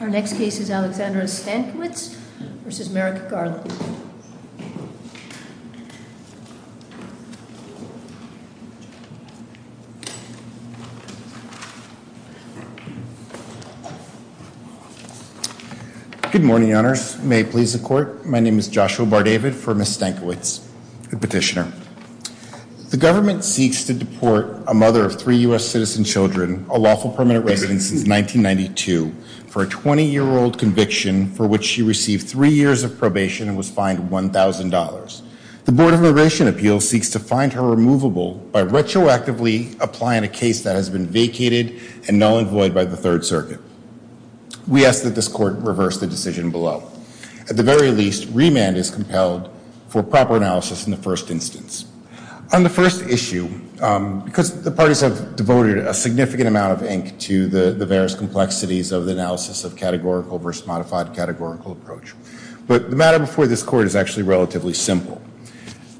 Our next case is Alexandra Stankiewicz v. Merrick Garland. Good morning, honors. May it please the court. My name is Joshua Bardavid for Ms. Stankiewicz, the petitioner. The government seeks to deport a mother of three U.S. citizen children, a lawful permanent resident since 1992 for a 20-year-old conviction for which she received three years of probation and was fined $1,000. The Board of Immigration Appeals seeks to find her removable by retroactively applying a case that has been vacated and null and void by the Third Circuit. We ask that this court reverse the decision below. At the very least, remand is compelled for proper analysis in the first instance. On the first issue, because the parties have a significant amount of ink to the various complexities of the analysis of categorical versus modified categorical approach. But the matter before this court is actually relatively simple.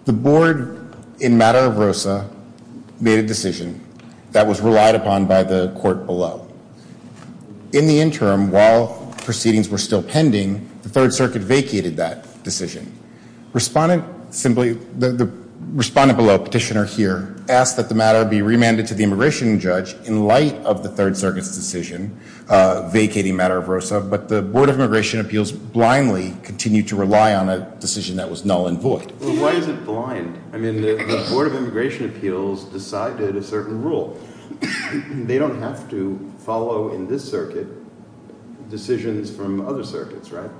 The board in matter of ROSA made a decision that was relied upon by the court below. In the interim, while proceedings were still pending, the Third Circuit vacated that decision. Respondent below, petitioner here, asked that the matter be remanded to the jurisdiction judge in light of the Third Circuit's decision vacating matter of ROSA. But the Board of Immigration Appeals blindly continued to rely on a decision that was null and void. Why is it blind? I mean, the Board of Immigration Appeals decided a certain rule. They don't have to follow in this circuit decisions from other circuits, right?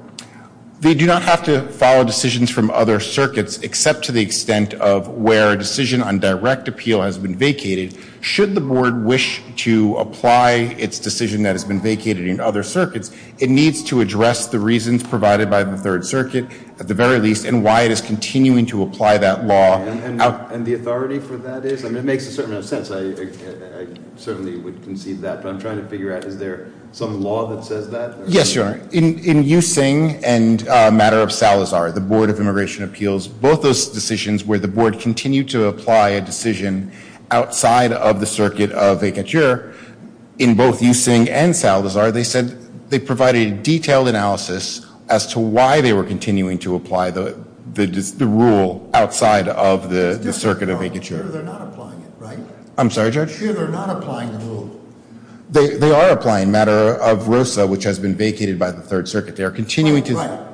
They do not have to follow decisions from other circuits except to the extent of where a decision on direct appeal has been vacated. Should the board wish to apply its decision that has been vacated in other circuits, it needs to address the reasons provided by the Third Circuit, at the very least, and why it is continuing to apply that law. And the authority for that is? I mean, it makes a certain amount of sense. I certainly would concede that. But I'm trying to figure out, is there some law that says that? Yes, Your Honor. In Yusing and matter of Salazar, the Board of Immigration Appeals, both those decisions where the board continued to apply a decision outside of the circuit of vacature, in both Yusing and Salazar, they said they provided a detailed analysis as to why they were continuing to apply the rule outside of the circuit of vacature. They're not applying it, right? I'm sorry, Judge? They're not applying the rule. They are applying matter of ROSA, which has been vacated by the Third Circuit. They are continuing to... Right.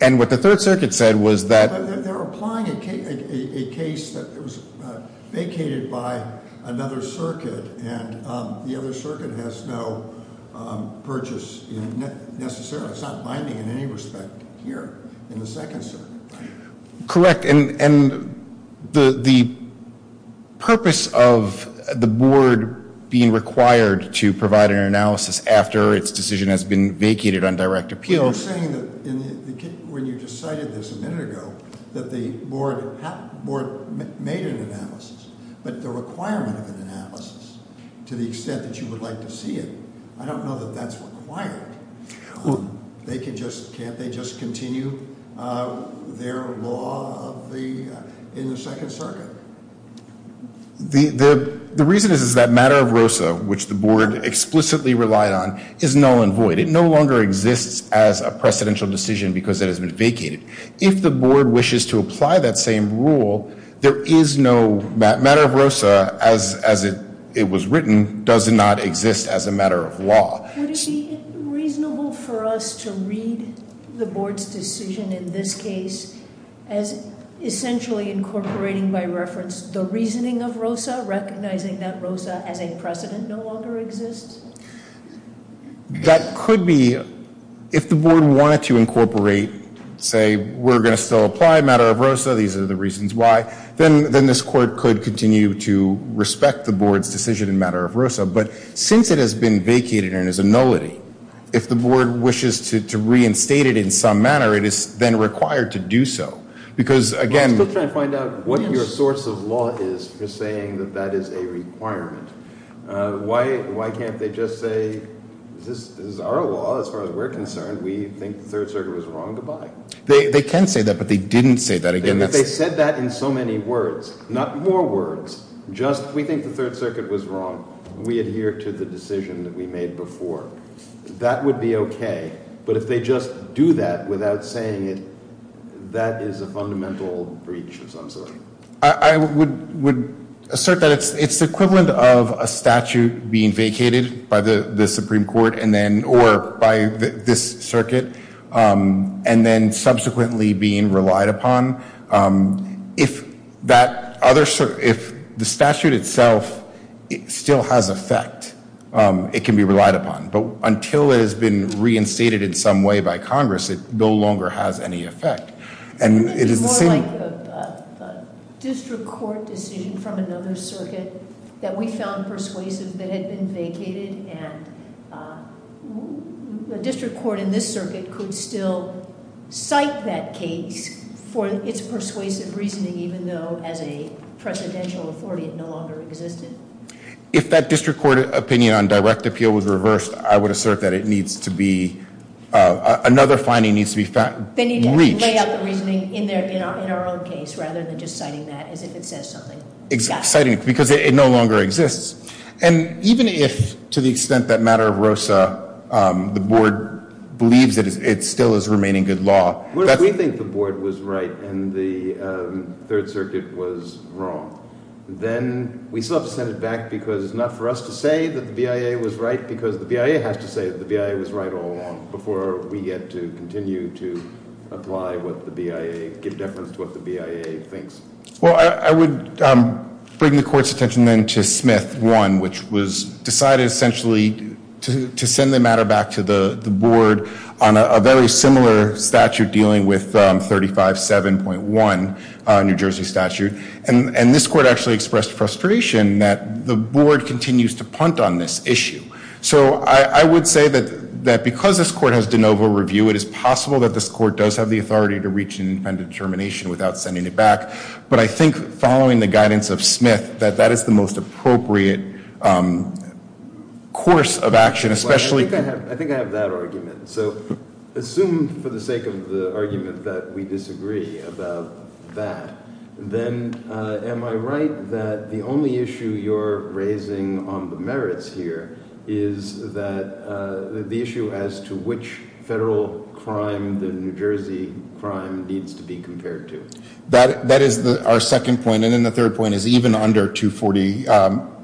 And what the Third Circuit said was that... They're applying a case that was vacated by another circuit, and the other circuit has no purchase, necessarily. It's not binding in any respect here, in the Second Circuit. Correct. And the purpose of the board being required to provide an analysis after its decision has been vacated on direct appeal... You're saying that when you decided this a minute ago, that the board made an analysis, but the requirement of an analysis, to the extent that you would like to see it, I don't know that that's required. They can just... Can't they just continue their law in the Second Circuit? The reason is that matter of ROSA, which the board explicitly relied on, is null and void. It no longer exists as a precedential decision because it has been vacated. If the board wishes to apply that same rule, there is no... Matter of ROSA, as it was written, does not exist as a matter of law. Would it be reasonable for us to read the board's decision in this case as essentially incorporating by reference the reasoning of ROSA, recognizing that ROSA as a precedent no longer exists? That could be. If the board wanted to incorporate, say, we're going to still apply matter of ROSA, these are the reasons why, then this court could continue to respect the board's decision in matter of ROSA. But since it has been vacated and is a nullity, if the board wishes to reinstate it in some manner, it is then required to do so. Because again... I'm still trying to find out what your source of law is for saying that that is a requirement. Why can't they just say, this is our law as far as we're concerned, we think the Third Circuit was wrong to buy. They can say that, but they didn't say that. Again, they said that in so many words, not more words, just we think the Third Circuit was wrong. We adhere to the decision that we made before. That would be okay. But if they just do that without saying it, that is a fundamental breach of some sort. I would assert that it's the equivalent of a statute being vacated by the Supreme Court or by this circuit and then subsequently being relied upon. If that other... if the statute itself still has effect, it can be relied upon. But until it has been reinstated in some way by Congress, it no longer has any effect. And it is more like a district court decision from another circuit that we found persuasive that had been vacated and the district court in this circuit could still cite that case for its persuasive reasoning, even though as a presidential authority it no longer existed. If that district court opinion on direct appeal was reversed, I would assert that it needs to be... another finding needs to be found. They need to lay out the reasoning in our own case rather than just citing that as if it says something. Citing it because it no longer exists. And even if to the extent that matter of ROSA, the board believes that it still is remaining good law... If we think the board was right and the third circuit was wrong, then we still have to send it back because it's not for us to say that the BIA was right because the BIA has to say that the BIA was right all along before we get to continue to apply what the BIA... give deference to what the BIA thinks. Well, I would bring the court's attention then to Smith 1, which was decided essentially to send the matter back to the board on a very similar statute dealing with 357.1 New Jersey statute. And this court actually expressed frustration that the board continues to punt on this issue. So I would say that because this court has de novo review, it is possible that this court does have the authority to reach an independent determination without sending it back. But I think following the guidance of Smith, that that is the most appropriate course of action, especially... I think I have that argument. So assume for the sake of the argument that we disagree about that, then am I right that the only issue you're raising on the New Jersey crime needs to be compared to? That is our second point. And then the third point is even under 840...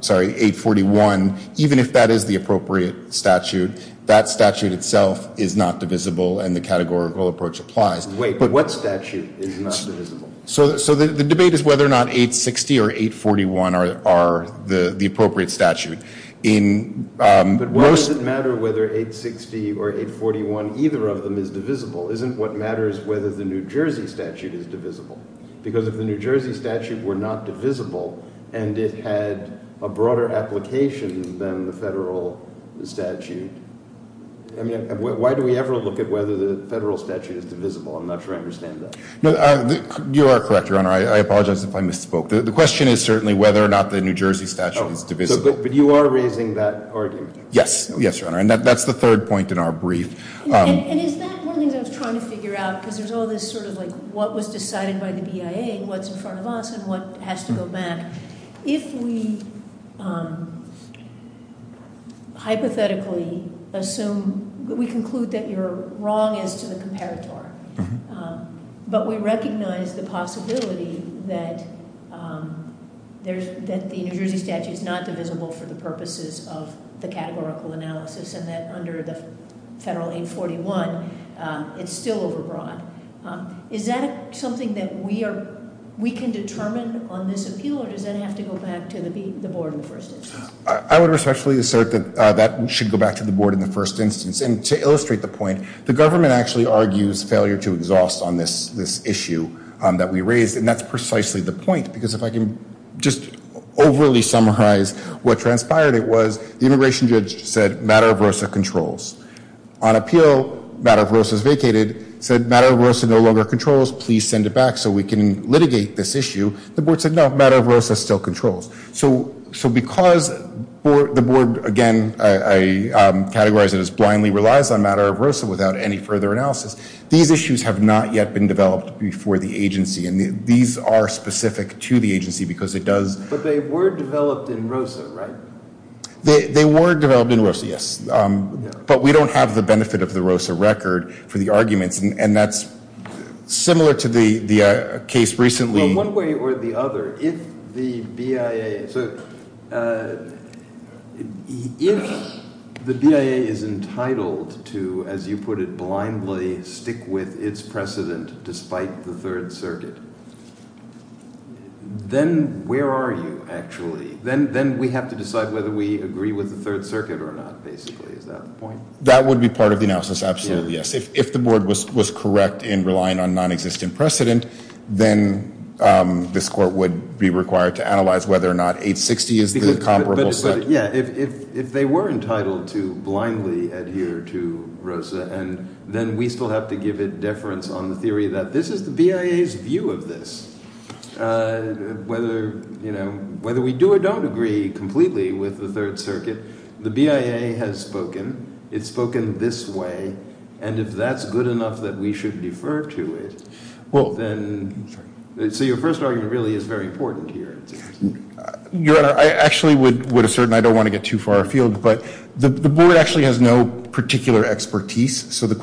sorry, 841, even if that is the appropriate statute, that statute itself is not divisible and the categorical approach applies. Wait, but what statute is not divisible? So the debate is whether or not 860 or 841 are the appropriate statute. But why does it matter whether 860 or 841, either of them is divisible? Isn't what matters whether the New Jersey statute is divisible? Because if the New Jersey statute were not divisible and it had a broader application than the federal statute, I mean, why do we ever look at whether the federal statute is divisible? I'm not sure I understand that. No, you are correct, Your Honor. I apologize if I misspoke. The question is certainly whether or not the New Jersey statute is divisible. But you are raising that Yes. Yes, Your Honor. And that's the third point in our brief. And is that one of the things I was trying to figure out? Because there's all this sort of like what was decided by the BIA, what's in front of us, and what has to go back. If we hypothetically assume that we conclude that you're wrong as to the comparator, but we recognize the possibility that the New Jersey statute is not divisible for the purposes of the categorical analysis, and that under the federal 841, it's still overbroad. Is that something that we can determine on this appeal? Or does that have to go back to the board in the first instance? I would respectfully assert that that should go back to the board in the first instance. And to illustrate the point, the government actually argues failure to exhaust on this issue that we raised. And that's precisely the point. Because if I can just overly summarize what transpired, it was the immigration judge said Madara-Varosa controls. On appeal, Madara-Varosa is vacated. Said Madara-Varosa no longer controls. Please send it back so we can litigate this issue. The board said no, Madara-Varosa still controls. So because the board, again, I categorize it as blindly relies on Madara-Varosa without any further analysis. These issues have not yet been developed before the agency. And these are specific to the agency because it does. But they were developed in ROSA, right? They were developed in ROSA, yes. But we don't have the benefit of the ROSA record for the arguments. And that's similar to the case recently. Well, one way or the other, if the BIA, if the BIA is entitled to, as you put it, blindly stick with its precedent despite the Third Circuit, then where are you, actually? Then we have to decide whether we agree with the Third Circuit or not, basically. Is that the point? That would be part of the analysis. Absolutely, yes. If the board was correct in relying on non-existent precedent, then this court would be required to analyze whether or not 860 is the comparable set. But yeah, if they were entitled to blindly adhere to ROSA, and then we still have to give it deference on the theory that this is the BIA's view of this, whether we do or don't agree completely with the Third Circuit, the BIA has spoken. It's spoken this way. And if that's good enough that we should defer to it, then, so your first argument really is very important here. Your Honor, I actually would assert, and I don't want to get too far afield, but the board actually has no particular expertise. So the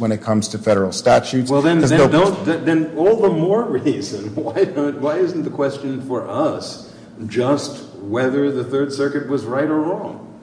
when it comes to federal statutes. Well, then all the more reason, why isn't the question for us just whether the Third Circuit was right or wrong?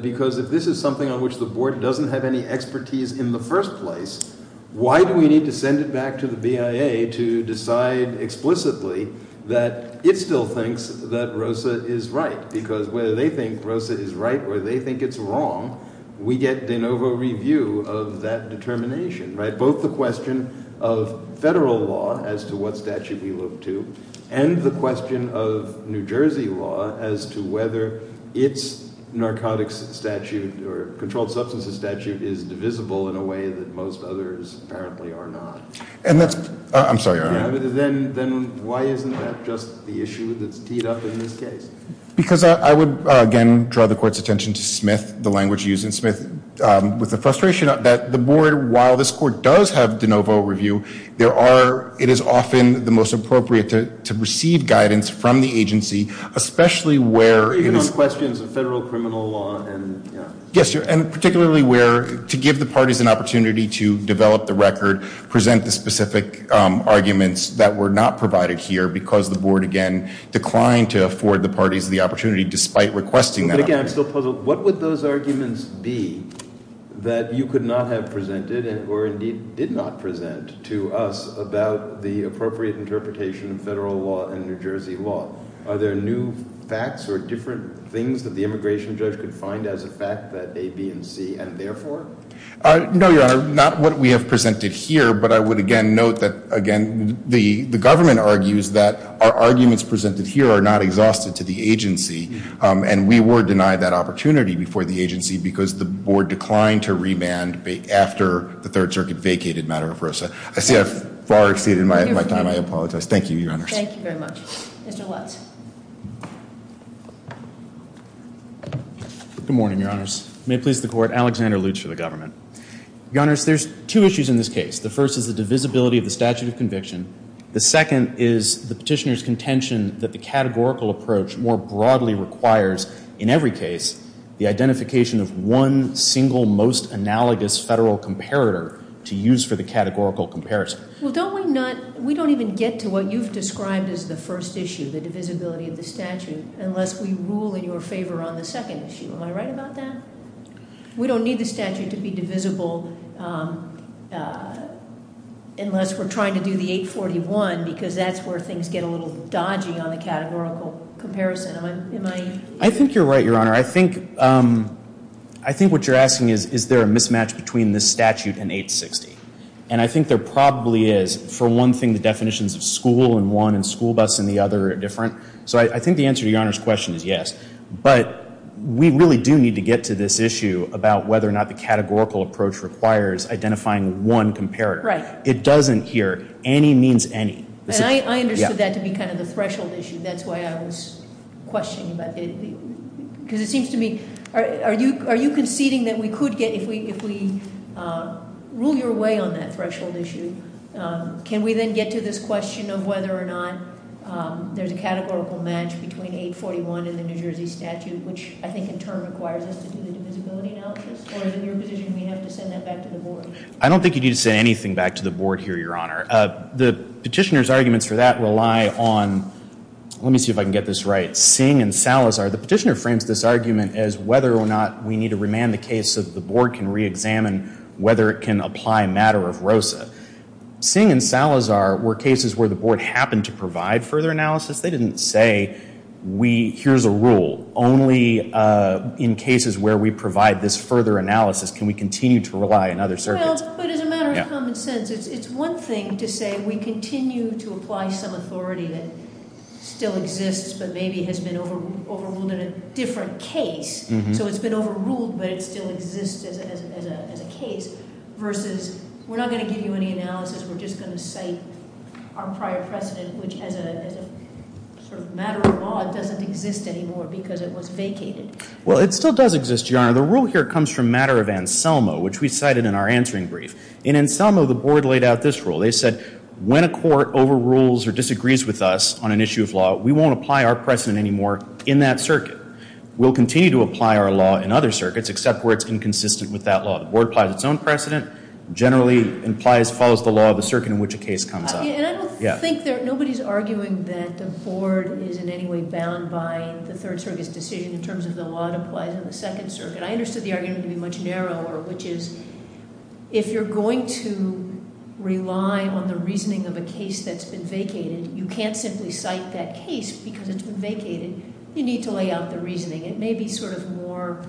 Because if this is something on which the board doesn't have any expertise in the first place, why do we need to send it back to the BIA to decide explicitly that it still thinks that ROSA is right? Because whether they think ROSA is right or they think it's wrong, we get de novo review of that determination, right? Both the question of federal law as to what statute we look to, and the question of New Jersey law as to whether its narcotics statute or controlled substances statute is divisible in a way that most others apparently are not. And that's, I'm sorry, Your Honor. Then why isn't that just the court's attention to Smith, the language used in Smith, with the frustration that the board, while this court does have de novo review, there are, it is often the most appropriate to receive guidance from the agency, especially where it is. Even on questions of federal criminal law. Yes, and particularly where to give the parties an opportunity to develop the record, present the specific arguments that were not provided here because the board, again, declined to afford the parties the opportunity despite requesting that. But again, I'm still puzzled. What would those arguments be that you could not have presented or indeed did not present to us about the appropriate interpretation of federal law and New Jersey law? Are there new facts or different things that the immigration judge could find as a fact that A, B, and C, and therefore? No, Your Honor. Not what we have presented here, but I would again note that, again, the government argues that our arguments presented here are not exhaustive to the agency, and we were denied that opportunity before the agency because the board declined to remand after the Third Circuit vacated, matter of versa. I see I've far exceeded my time. I apologize. Thank you, Your Honors. Thank you very much. Mr. Lutz. Good morning, Your Honors. May it please the Court. Alexander Lutz for the government. Your Honors, there's two issues in this case. The first is the divisibility of the statute of federal approach more broadly requires, in every case, the identification of one single most analogous federal comparator to use for the categorical comparison. Well, don't we not, we don't even get to what you've described as the first issue, the divisibility of the statute, unless we rule in your favor on the second issue. Am I right about that? We don't need the statute to be divisible unless we're trying to do the 841 because that's where things get a little dodgy on the categorical comparison. Am I? I think you're right, Your Honor. I think what you're asking is, is there a mismatch between this statute and 860? And I think there probably is. For one thing, the definitions of school and one and school bus and the other are different. So I think the answer to Your Honor's question is yes. But we really do need to get to this issue about whether or not the categorical approach requires identifying one comparator. Right. It doesn't here. Any means any. And I question, because it seems to me, are you conceding that we could get, if we rule your way on that threshold issue, can we then get to this question of whether or not there's a categorical match between 841 and the New Jersey statute, which I think in turn requires us to do the divisibility analysis? Or is it your position we have to send that back to the board? I don't think you need to send anything back to the board here, Your Honor. The petitioner's right. Singh and Salazar, the petitioner frames this argument as whether or not we need to remand the case so that the board can reexamine whether it can apply a matter of ROSA. Singh and Salazar were cases where the board happened to provide further analysis. They didn't say, here's a rule, only in cases where we provide this further analysis can we continue to rely on other circuits. But as a matter of common sense, it's one thing to say we continue to apply some authority that still exists, but maybe has been overruled in a different case. So it's been overruled, but it still exists as a case, versus we're not going to give you any analysis. We're just going to cite our prior precedent, which as a sort of matter of law, it doesn't exist anymore because it was vacated. Well, it still does exist, Your Honor. The rule here comes from matter of Anselmo, which we cited in our answering brief. In Anselmo, the board laid out this rule. They said, when a court overrules or disagrees with us on an issue of law, we won't apply our precedent anymore in that circuit. We'll continue to apply our law in other circuits, except where it's inconsistent with that law. The board applies its own precedent, generally follows the law of the circuit in which a case comes up. And I don't think, nobody's arguing that the board is in any way bound by the Third Circuit's decision in terms of the law that applies in the Second Circuit. I understood argument to be much narrower, which is, if you're going to rely on the reasoning of a case that's been vacated, you can't simply cite that case because it's been vacated. You need to lay out the reasoning. It may be sort of more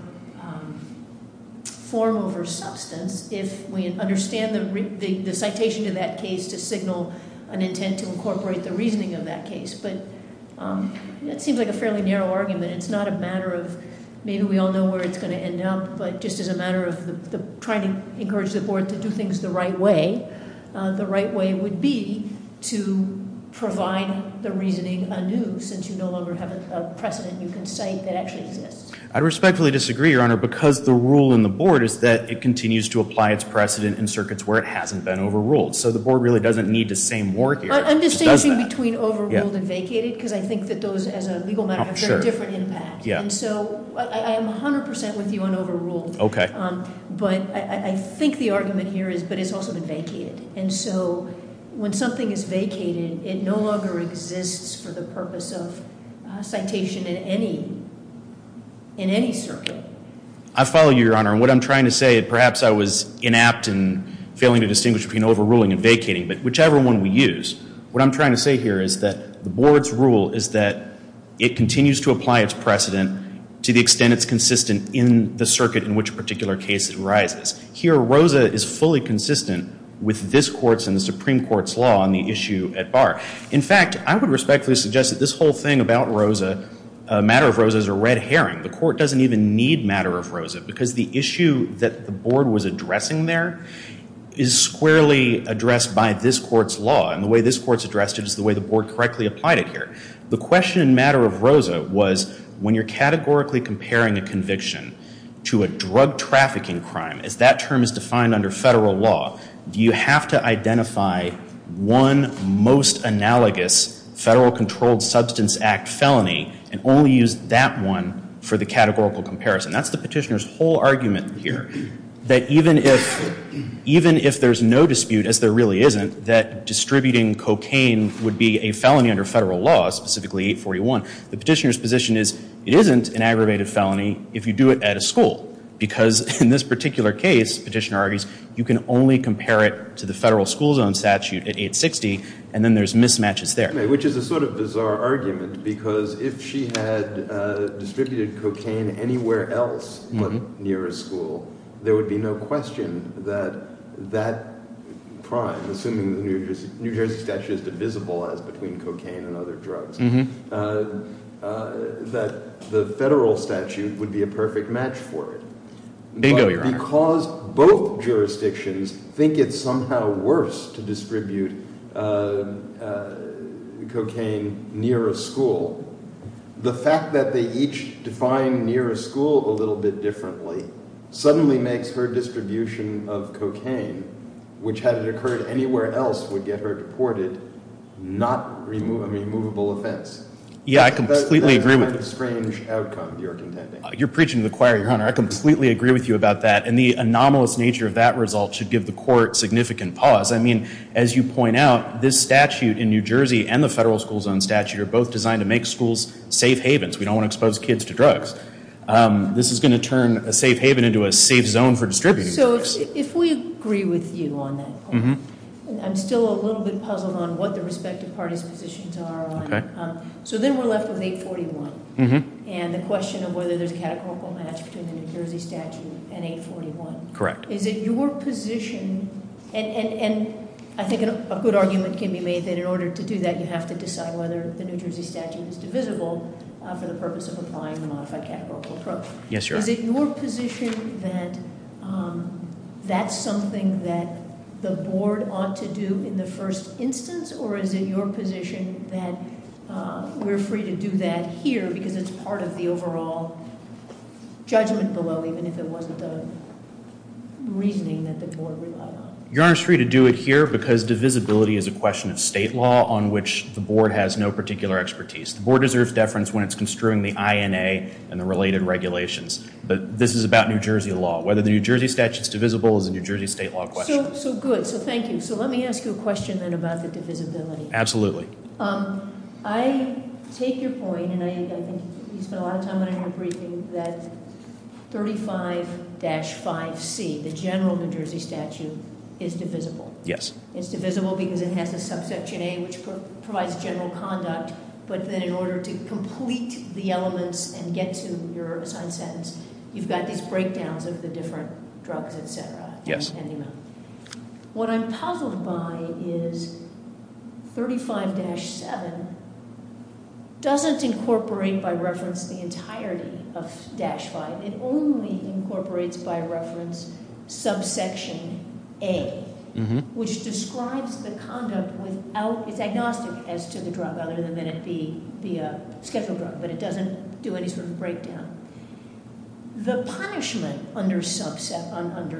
form over substance if we understand the citation to that case to signal an intent to incorporate the reasoning of that case. But that seems like a just as a matter of trying to encourage the board to do things the right way, the right way would be to provide the reasoning anew, since you no longer have a precedent you can cite that actually exists. I respectfully disagree, Your Honor, because the rule in the board is that it continues to apply its precedent in circuits where it hasn't been overruled. So the board really doesn't need to say more here. I'm distinguishing between overruled and vacated because I think that those, as a legal matter, have very different impact. And so I am 100% with you on overruled. Okay. But I think the argument here is, but it's also been vacated. And so when something is vacated, it no longer exists for the purpose of citation in any, in any circuit. I follow you, Your Honor. And what I'm trying to say, perhaps I was inapt and failing to distinguish between overruling and vacating, but whichever one we use, what I'm trying to say here is that the board's rule is that it continues to apply its precedent to the extent it's consistent in the circuit in which a particular case arises. Here, Rosa is fully consistent with this court's and the Supreme Court's law on the issue at bar. In fact, I would respectfully suggest that this whole thing about Rosa, matter of Rosa, is a red herring. The court doesn't even need matter of Rosa because the issue that the board was addressing there is squarely addressed by this court's law. And the way this court's addressed it is the way the board correctly applied it here. The question in matter of Rosa was when you're categorically comparing a conviction to a drug trafficking crime, as that term is defined under federal law, do you have to identify one most analogous Federal Controlled Substance Act felony and only use that one for the categorical comparison? That's the petitioner's whole argument here. That even if, even if there's no dispute, as there really isn't, that distributing cocaine would be a felony under federal law, specifically 841, the petitioner's position is it isn't an aggravated felony if you do it at a school. Because in this particular case, the petitioner argues, you can only compare it to the federal school zone statute at 860 and then there's mismatches there. Which is a sort of bizarre argument because if she had distributed cocaine anywhere else near a school, there would be no question that that crime, assuming the New Jersey statute is divisible as between cocaine and other drugs, that the federal statute would be a perfect match for it. But because both jurisdictions think it's somehow worse to distribute cocaine near a school, the fact that they each define near a school a little bit differently suddenly makes her distribution of cocaine, which had it occurred anywhere else, would get her reported not a removable offense. Yeah, I completely agree with you. That's a kind of strange outcome you're contending. You're preaching to the choir, your honor. I completely agree with you about that. And the anomalous nature of that result should give the court significant pause. I mean, as you point out, this statute in New Jersey and the federal school zone statute are both designed to make schools safe havens. We don't want to expose kids to drugs. This is going to turn a safe haven into a safe zone for distributing drugs. So if we agree with you on that, I'm still a little bit puzzled on what the respective parties' positions are. So then we're left with 841. And the question of whether there's a categorical match between the New Jersey statute and 841. Is it your position, and I think a good argument can be made that in order to do that you have to decide whether the New Jersey statute is divisible for the purpose of applying a modified categorical approach. Is it your position that that's something that the board ought to do in the first instance? Or is it your position that we're free to do that here because it's part of the overall judgment below even if it wasn't the reasoning that the board relied on? Your honor's free to do it here because divisibility is a question of state law on which the board has no particular expertise. The board deserves deference when it's construing the INA and the related regulations. But this is about New Jersey law. Whether the New Jersey statute's divisible is a New Jersey state law question. So good, so thank you. So let me ask you a question then about the divisibility. Absolutely. I take your point, and I think you spent a lot of time on it in your briefing, that 35-5C, the general New Jersey statute, is divisible. Yes. It's divisible because it has a subsection A which provides general conduct. But then in order to complete the elements and get to your assigned sentence, you've got these breakdowns of the different drugs, etc. Yes. What I'm puzzled by is 35-7 doesn't incorporate by reference the entirety of dash five. It only incorporates by reference subsection A, which describes the conduct without, it's agnostic as to the drug other than it be the scheduled drug. But it doesn't do any sort of breakdown. The punishment under C-7,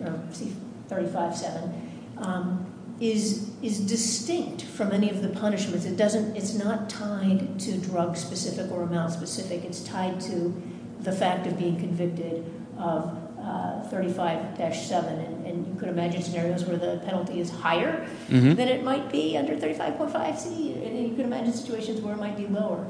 or C-35-7 is distinct from any of the punishments. It's not tied to drug specific or male specific. It's tied to the fact of being convicted of 35-7. And you could imagine scenarios where the penalty is higher than it might be under 35.5C. And you could imagine situations where it might be lower.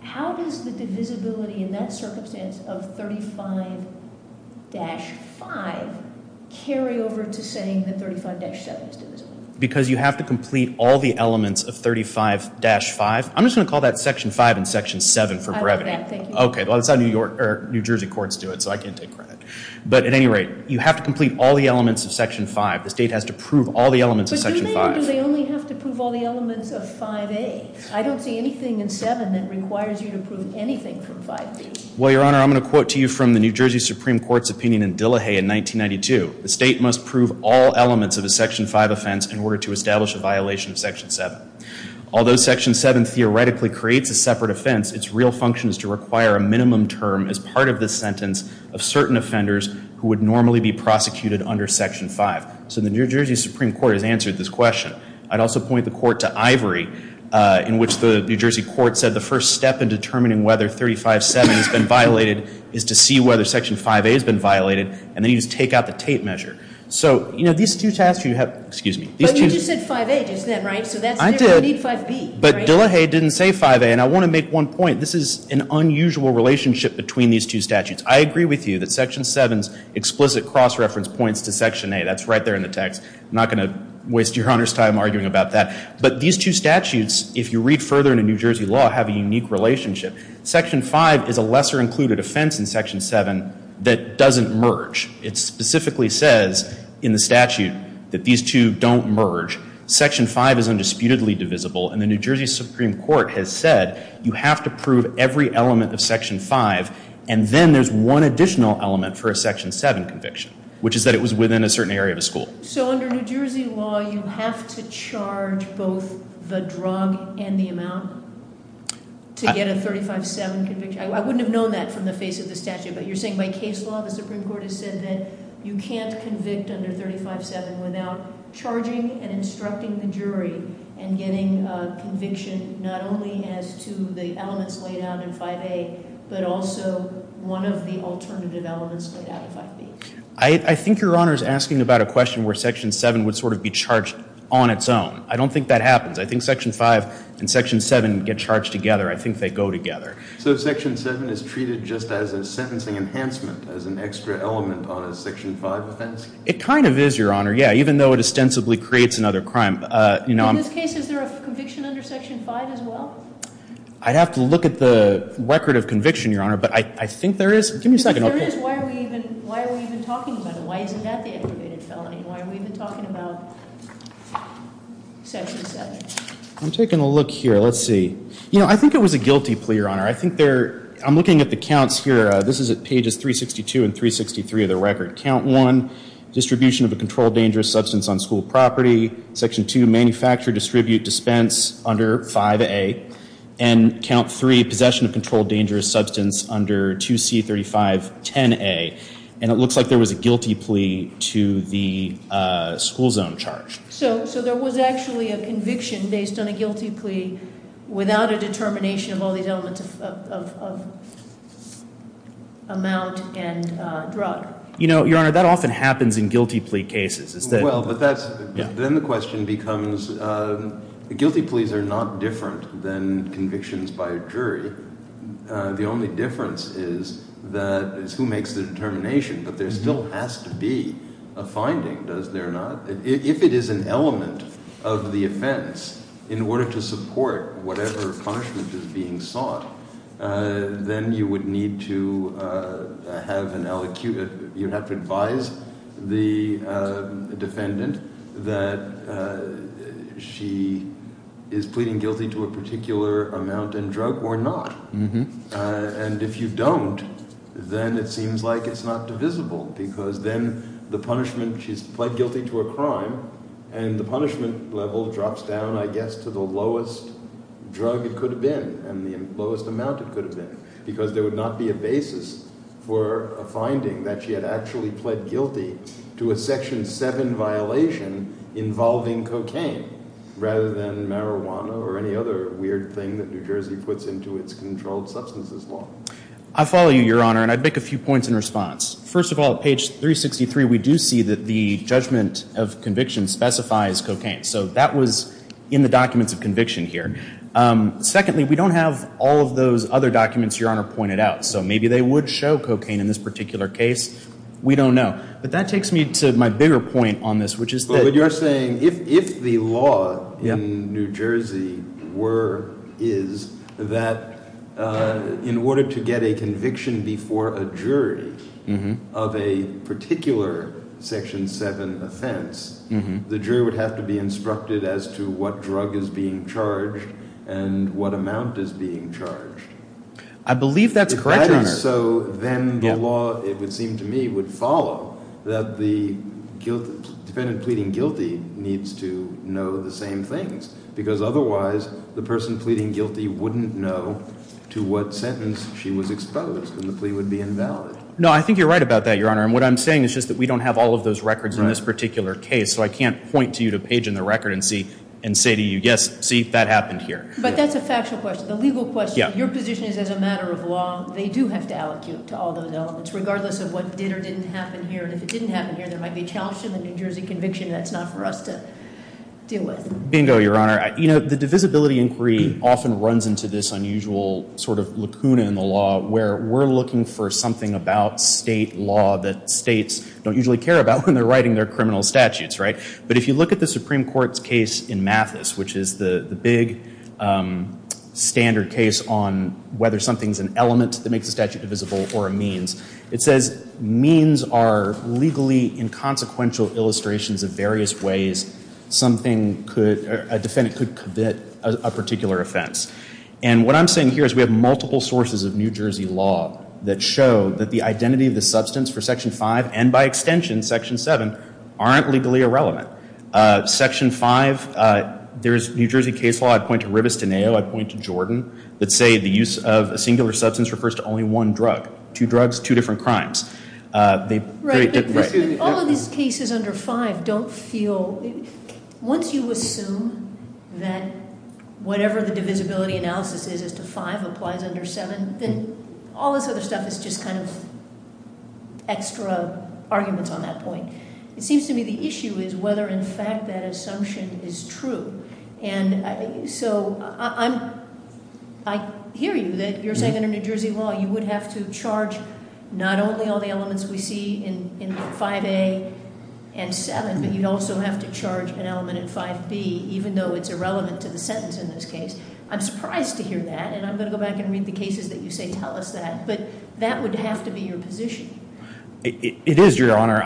How does the divisibility in that circumstance of 35-5 carry over to saying that 35-7 is divisible? Because you have to complete all the elements of 35-5, I'm just going to call that section five and section seven for brevity. I love that, thank you. Okay, well that's how New Jersey courts do it, so I can't take credit. But at any rate, you have to complete all the elements of section five. The state has to prove all the elements of section five. But do they only have to prove all the elements of 5A? I don't see anything in 7 that requires you to prove anything from 5B. Well, Your Honor, I'm going to quote to you from the New Jersey Supreme Court's opinion in Dillehay in 1992. The state must prove all elements of a section five offense in order to establish a violation of section seven. Although section seven theoretically creates a separate offense, its real function is to require a minimum term as part of the sentence of certain offenders who would normally be prosecuted under section five. So the New Jersey Supreme Court has answered this question. I'd also point the court to Ivory, in which the New Jersey court said the first step in determining whether 35-7 has been violated is to see whether section 5A has been violated, and then you just take out the tape measure. So, you know, these two tasks you have, excuse me. But you just said 5A, isn't that right? I did, but Dillehay didn't say 5A. And I want to make one point. This is an unusual relationship between these two statutes. I agree with you that section seven's explicit cross-reference points to section eight. That's right there in the text. I'm not going to waste Your Honor's time arguing about that. But these two statutes, if you read further into New Jersey law, have a unique relationship. Section five is a lesser-included offense in section seven that doesn't merge. It specifically says in the statute that these two don't merge. Section five is undisputedly divisible, and the New Jersey Supreme Court has said you have to prove every element of section five. And then there's one additional element for a section seven conviction, which is that it was within a certain area of a school. So under New Jersey law, you have to charge both the drug and the amount to get a 35-7 conviction? I wouldn't have known that from the face of the statute, but you're saying by case law the Supreme Court has said that you can't convict under 35-7 without charging and instructing the jury and getting conviction, not only as to the elements laid out in 5A, but also one of the alternative elements laid out in 5B. I think Your Honor's asking about a question where section seven would sort of be charged on its own. I don't think that happens. I think section five and section seven get charged together. I think they go together. So section seven is treated just as a sentencing enhancement, as an extra element on a section five offense? It kind of is, Your Honor. Yeah, even though it ostensibly creates another crime. In this case, is there a conviction under section five as well? I'd have to look at the record of conviction, Your Honor, but I think there is. Give me a second. If there is, why are we even talking about it? Why isn't that the aggravated felony? Why are we even talking about section seven? I'm taking a look here. Let's see. I think it was a guilty plea, Your Honor. I think there, I'm looking at the counts here. This is at pages 362 and 363 of the record. Count one, distribution of a controlled dangerous substance on school property. Section two, manufacture, distribute, dispense under 5A. And count three, possession of controlled dangerous substance under 2C3510A. And it looks like there was a guilty plea to the school zone charge. So there was actually a conviction based on a guilty plea without a determination of all these elements of amount and drug. Your Honor, that often happens in guilty plea cases. It's that- Well, but that's, then the question becomes, guilty pleas are not different than convictions by a jury. The only difference is that it's who makes the determination, but there still has to be a finding, does there not? If it is an element of the offense, in order to support whatever punishment is being sought, then you would need to have an, you'd have to advise the defendant that she is pleading guilty to a particular amount and drug or not. And if you don't, then it seems like it's not divisible, because then the punishment, she's pled guilty to a crime, and the punishment level drops down, I guess, to the lowest drug it could have been. And the lowest amount it could have been. Because there would not be a basis for a finding that she had actually pled guilty to a section seven violation involving cocaine, rather than marijuana or any other weird thing that New Jersey puts into its controlled substances law. I follow you, Your Honor, and I'd make a few points in response. First of all, page 363, we do see that the judgment of conviction specifies cocaine. So that was in the documents of conviction here. Secondly, we don't have all of those other documents, Your Honor, pointed out. So maybe they would show cocaine in this particular case. We don't know. But that takes me to my bigger point on this, which is that- But what you're saying, if the law in New Jersey were, is that in order to get a conviction before a jury of a particular section seven offense, the jury would have to be instructed as to what drug is being charged and what amount is being charged? I believe that's correct, Your Honor. So then the law, it would seem to me, would follow that the defendant pleading guilty needs to know the same things, because otherwise the person pleading guilty wouldn't know to what sentence she was exposed, and the plea would be invalid. No, I think you're right about that, Your Honor. And what I'm saying is just that we don't have all of those records in this particular case. So I can't point to you to page in the record and say to you, yes, see, that happened here. But that's a factual question. The legal question, your position is as a matter of law, they do have to allocate to all those elements, regardless of what did or didn't happen here. And if it didn't happen here, there might be a challenge to the New Jersey conviction. That's not for us to deal with. Bingo, Your Honor. You know, the divisibility inquiry often runs into this unusual sort of lacuna in the law, where we're looking for something about state law that states don't usually care about when they're writing their criminal statutes. But if you look at the Supreme Court's case in Mathis, which is the big standard case on whether something's an element that makes a statute divisible or a means, it says means are legally inconsequential illustrations of various ways a defendant could commit a particular offense. And what I'm saying here is we have multiple sources of New Jersey law that show that the identity of the substance for Section 5, and by extension, Section 7, aren't legally irrelevant. Section 5, there's New Jersey case law, I'd point to Ribostoneo, I'd point to Jordan, that say the use of a singular substance refers to only one drug. Two drugs, two different crimes. They- Right, but all of these cases under 5 don't feel, once you assume that whatever the divisibility analysis is as to 5 applies under 7, then all this other stuff is just kind of extra arguments on that point. It seems to me the issue is whether in fact that assumption is true. And so I hear you, that you're saying under New Jersey law you would have to charge not only all the elements we see in 5A and 7, but you'd also have to charge an element in 5B, even though it's irrelevant to the sentence in this case. I'm surprised to hear that, and I'm going to go back and read the cases that you say tell us that. But that would have to be your position. It is, Your Honor.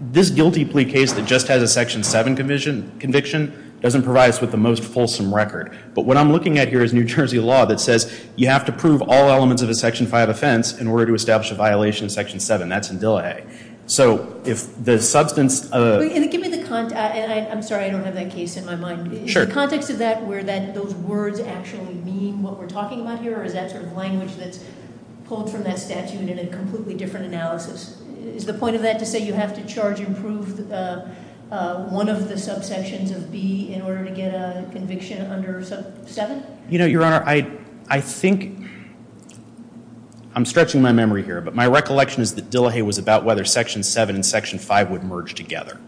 This guilty plea case that just has a Section 7 conviction doesn't provide us with the most fulsome record. But what I'm looking at here is New Jersey law that says you have to prove all elements of a Section 5 offense in order to establish a violation of Section 7. That's in Dillehay. So if the substance of- Give me the context, and I'm sorry I don't have that case in my mind. Sure. Is the context of that where those words actually mean what we're talking about here, or is that sort of language that's pulled from that statute in a completely different analysis? Is the point of that to say you have to charge and prove one of the subsections of B in order to get a conviction under 7? You know, Your Honor, I think, I'm stretching my memory here, but my recollection is that Dillehay was about whether Section 7 and Section 5 would merge together.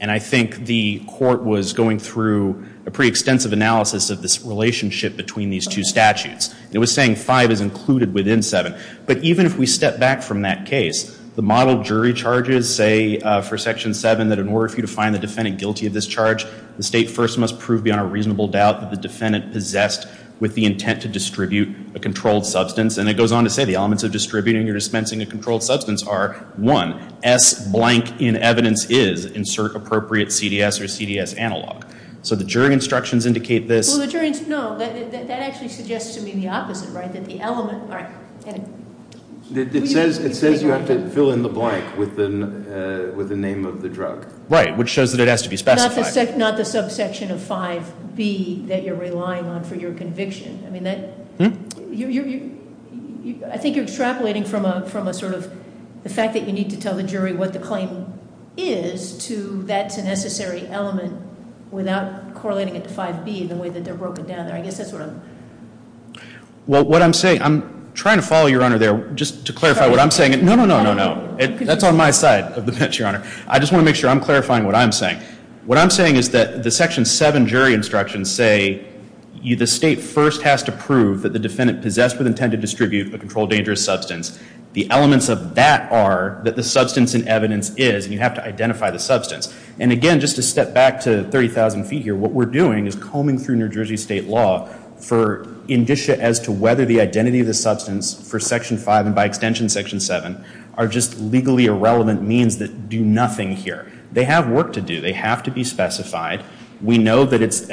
And I think the court was going through a pretty extensive analysis of this relationship between these two statutes. It was saying 5 is included within 7. But even if we step back from that case, the model jury charges say for Section 7 that in order for you to find the defendant guilty of this charge, the State first must prove beyond a reasonable doubt that the defendant possessed with the intent to distribute a controlled substance. And it goes on to say the elements of distributing or dispensing a controlled substance are, one, S blank in evidence is, insert appropriate CDS or CDS analog. So the jury instructions indicate this. Well, the jury, no, that actually suggests to me the opposite, right? That the element, all right, edit. It says you have to fill in the blank with the name of the drug. Right, which shows that it has to be specified. Not the subsection of 5B that you're relying on for your conviction. I mean, I think you're extrapolating from a sort of, the fact that you need to tell the jury what the claim is to that's a necessary element without correlating it to 5B, the way that they're broken down there. I guess that's what I'm. Well, what I'm saying, I'm trying to follow your honor there, just to clarify what I'm saying. No, no, no, no, no. That's on my side of the bench, your honor. I just want to make sure I'm clarifying what I'm saying. What I'm saying is that the Section 7 jury instructions say the state first has to prove that the defendant possessed with intent to distribute a controlled dangerous substance. The elements of that are that the substance in evidence is, and you have to identify the substance. And again, just to step back to 30,000 feet here, what we're doing is combing through New Jersey state law for indicia as to whether the identity of the substance for Section 5 and by extension Section 7 are just legally irrelevant means that do nothing here. They have work to do. They have to be specified. We know that it's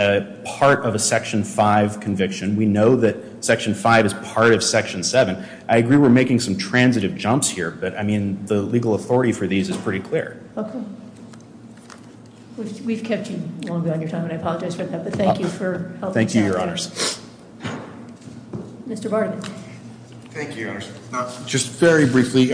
part of a Section 5 conviction. We know that Section 5 is part of Section 7. I agree we're making some transitive jumps here, but I mean, the legal authority for these is pretty clear. Okay, we've kept you long beyond your time, and I apologize for that, but thank you for helping us out there. Thank you, your honors. Mr. Barnett. Thank you, your honors. Just very briefly,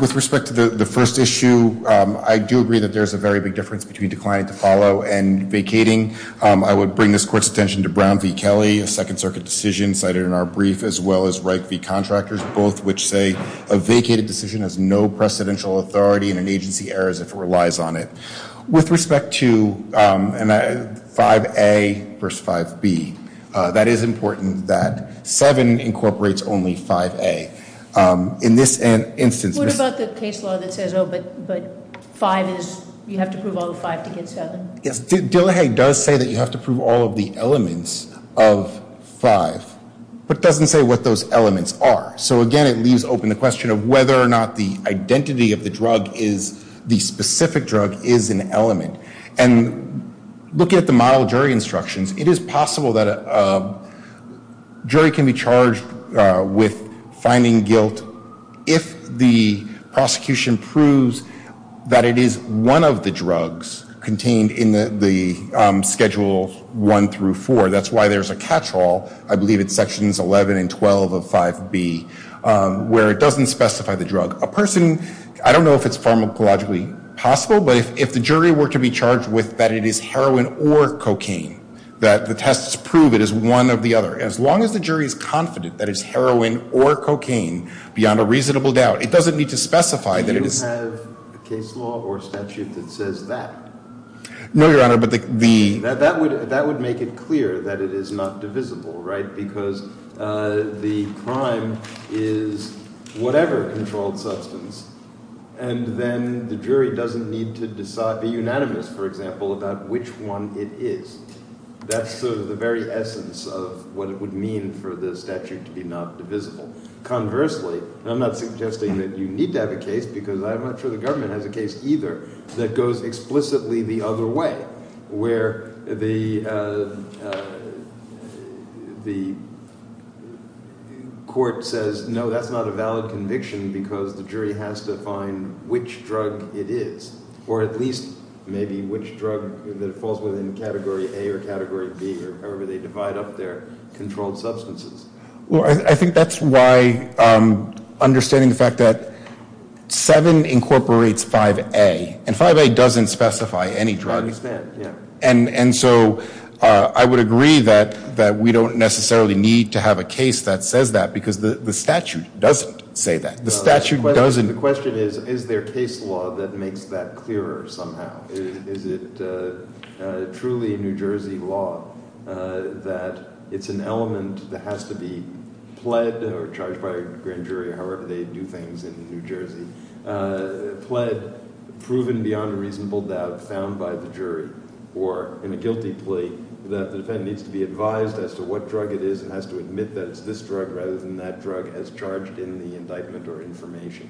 with respect to the first issue, I do agree that there's a very big difference between declining to follow and vacating. I would bring this court's attention to Brown v. Kelly, a second circuit decision cited in our brief, as well as Wright v. Contractors, both which say a vacated decision has no precedential authority and an agency errors if it relies on it. With respect to 5A versus 5B, that is important that 7 incorporates only 5A. In this instance- What about the case law that says, but 5 is, you have to prove all 5 to get 7? Yes, Dillehay does say that you have to prove all of the elements of 5, but doesn't say what those elements are. So again, it leaves open the question of whether or not the identity of the drug is the specific drug is an element. And look at the model jury instructions. It is possible that a jury can be charged with finding guilt if the prosecution proves that it is one of the drugs contained in the schedule one through four. That's why there's a catchall, I believe it's sections 11 and 12 of 5B, where it doesn't specify the drug. A person, I don't know if it's pharmacologically possible, but if the jury were to be charged with that it is heroin or cocaine, that the tests prove it is one or the other, as long as the jury is confident that it's heroin or cocaine beyond a reasonable doubt. It doesn't need to specify that it is- Do you have a case law or statute that says that? No, Your Honor, but the- That would make it clear that it is not divisible, right? Because the crime is whatever controlled substance. And then the jury doesn't need to be unanimous, for example, about which one it is. That's sort of the very essence of what it would mean for the statute to be not divisible. Conversely, and I'm not suggesting that you need to have a case, because I'm not sure the government has a case either, that goes explicitly the other way, where the court says, no, that's not a valid conviction because the jury has to find which drug it is. Or at least maybe which drug that falls within category A or category B, or however they divide up their controlled substances. Well, I think that's why understanding the fact that seven incorporates 5A, and 5A doesn't specify any drug. I understand, yeah. And so I would agree that we don't necessarily need to have a case that says that, because the statute doesn't say that. The statute doesn't- The question is, is there case law that makes that clearer somehow? Is it truly New Jersey law that it's an element that has to be pled, or charged by a grand jury, or however they do things in New Jersey, pled, proven beyond a reasonable doubt, found by the jury, or in a guilty plea, that the defendant needs to be advised as to what drug it is, and has to admit that it's this drug, rather than that drug as charged in the indictment or information.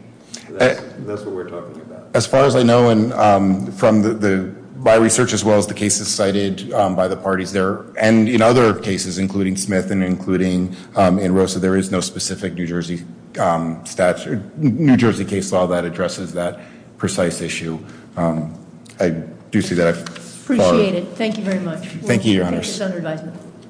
That's what we're talking about. As far as I know, and from my research, as well as the cases cited by the parties there, and in other cases, including Smith, and including in Rosa, there is no specific New Jersey statute, New Jersey case law that addresses that precise issue. I do see that I've- Appreciate it. Thank you very much. Thank you, your honors. Thank you, your honor's advisement.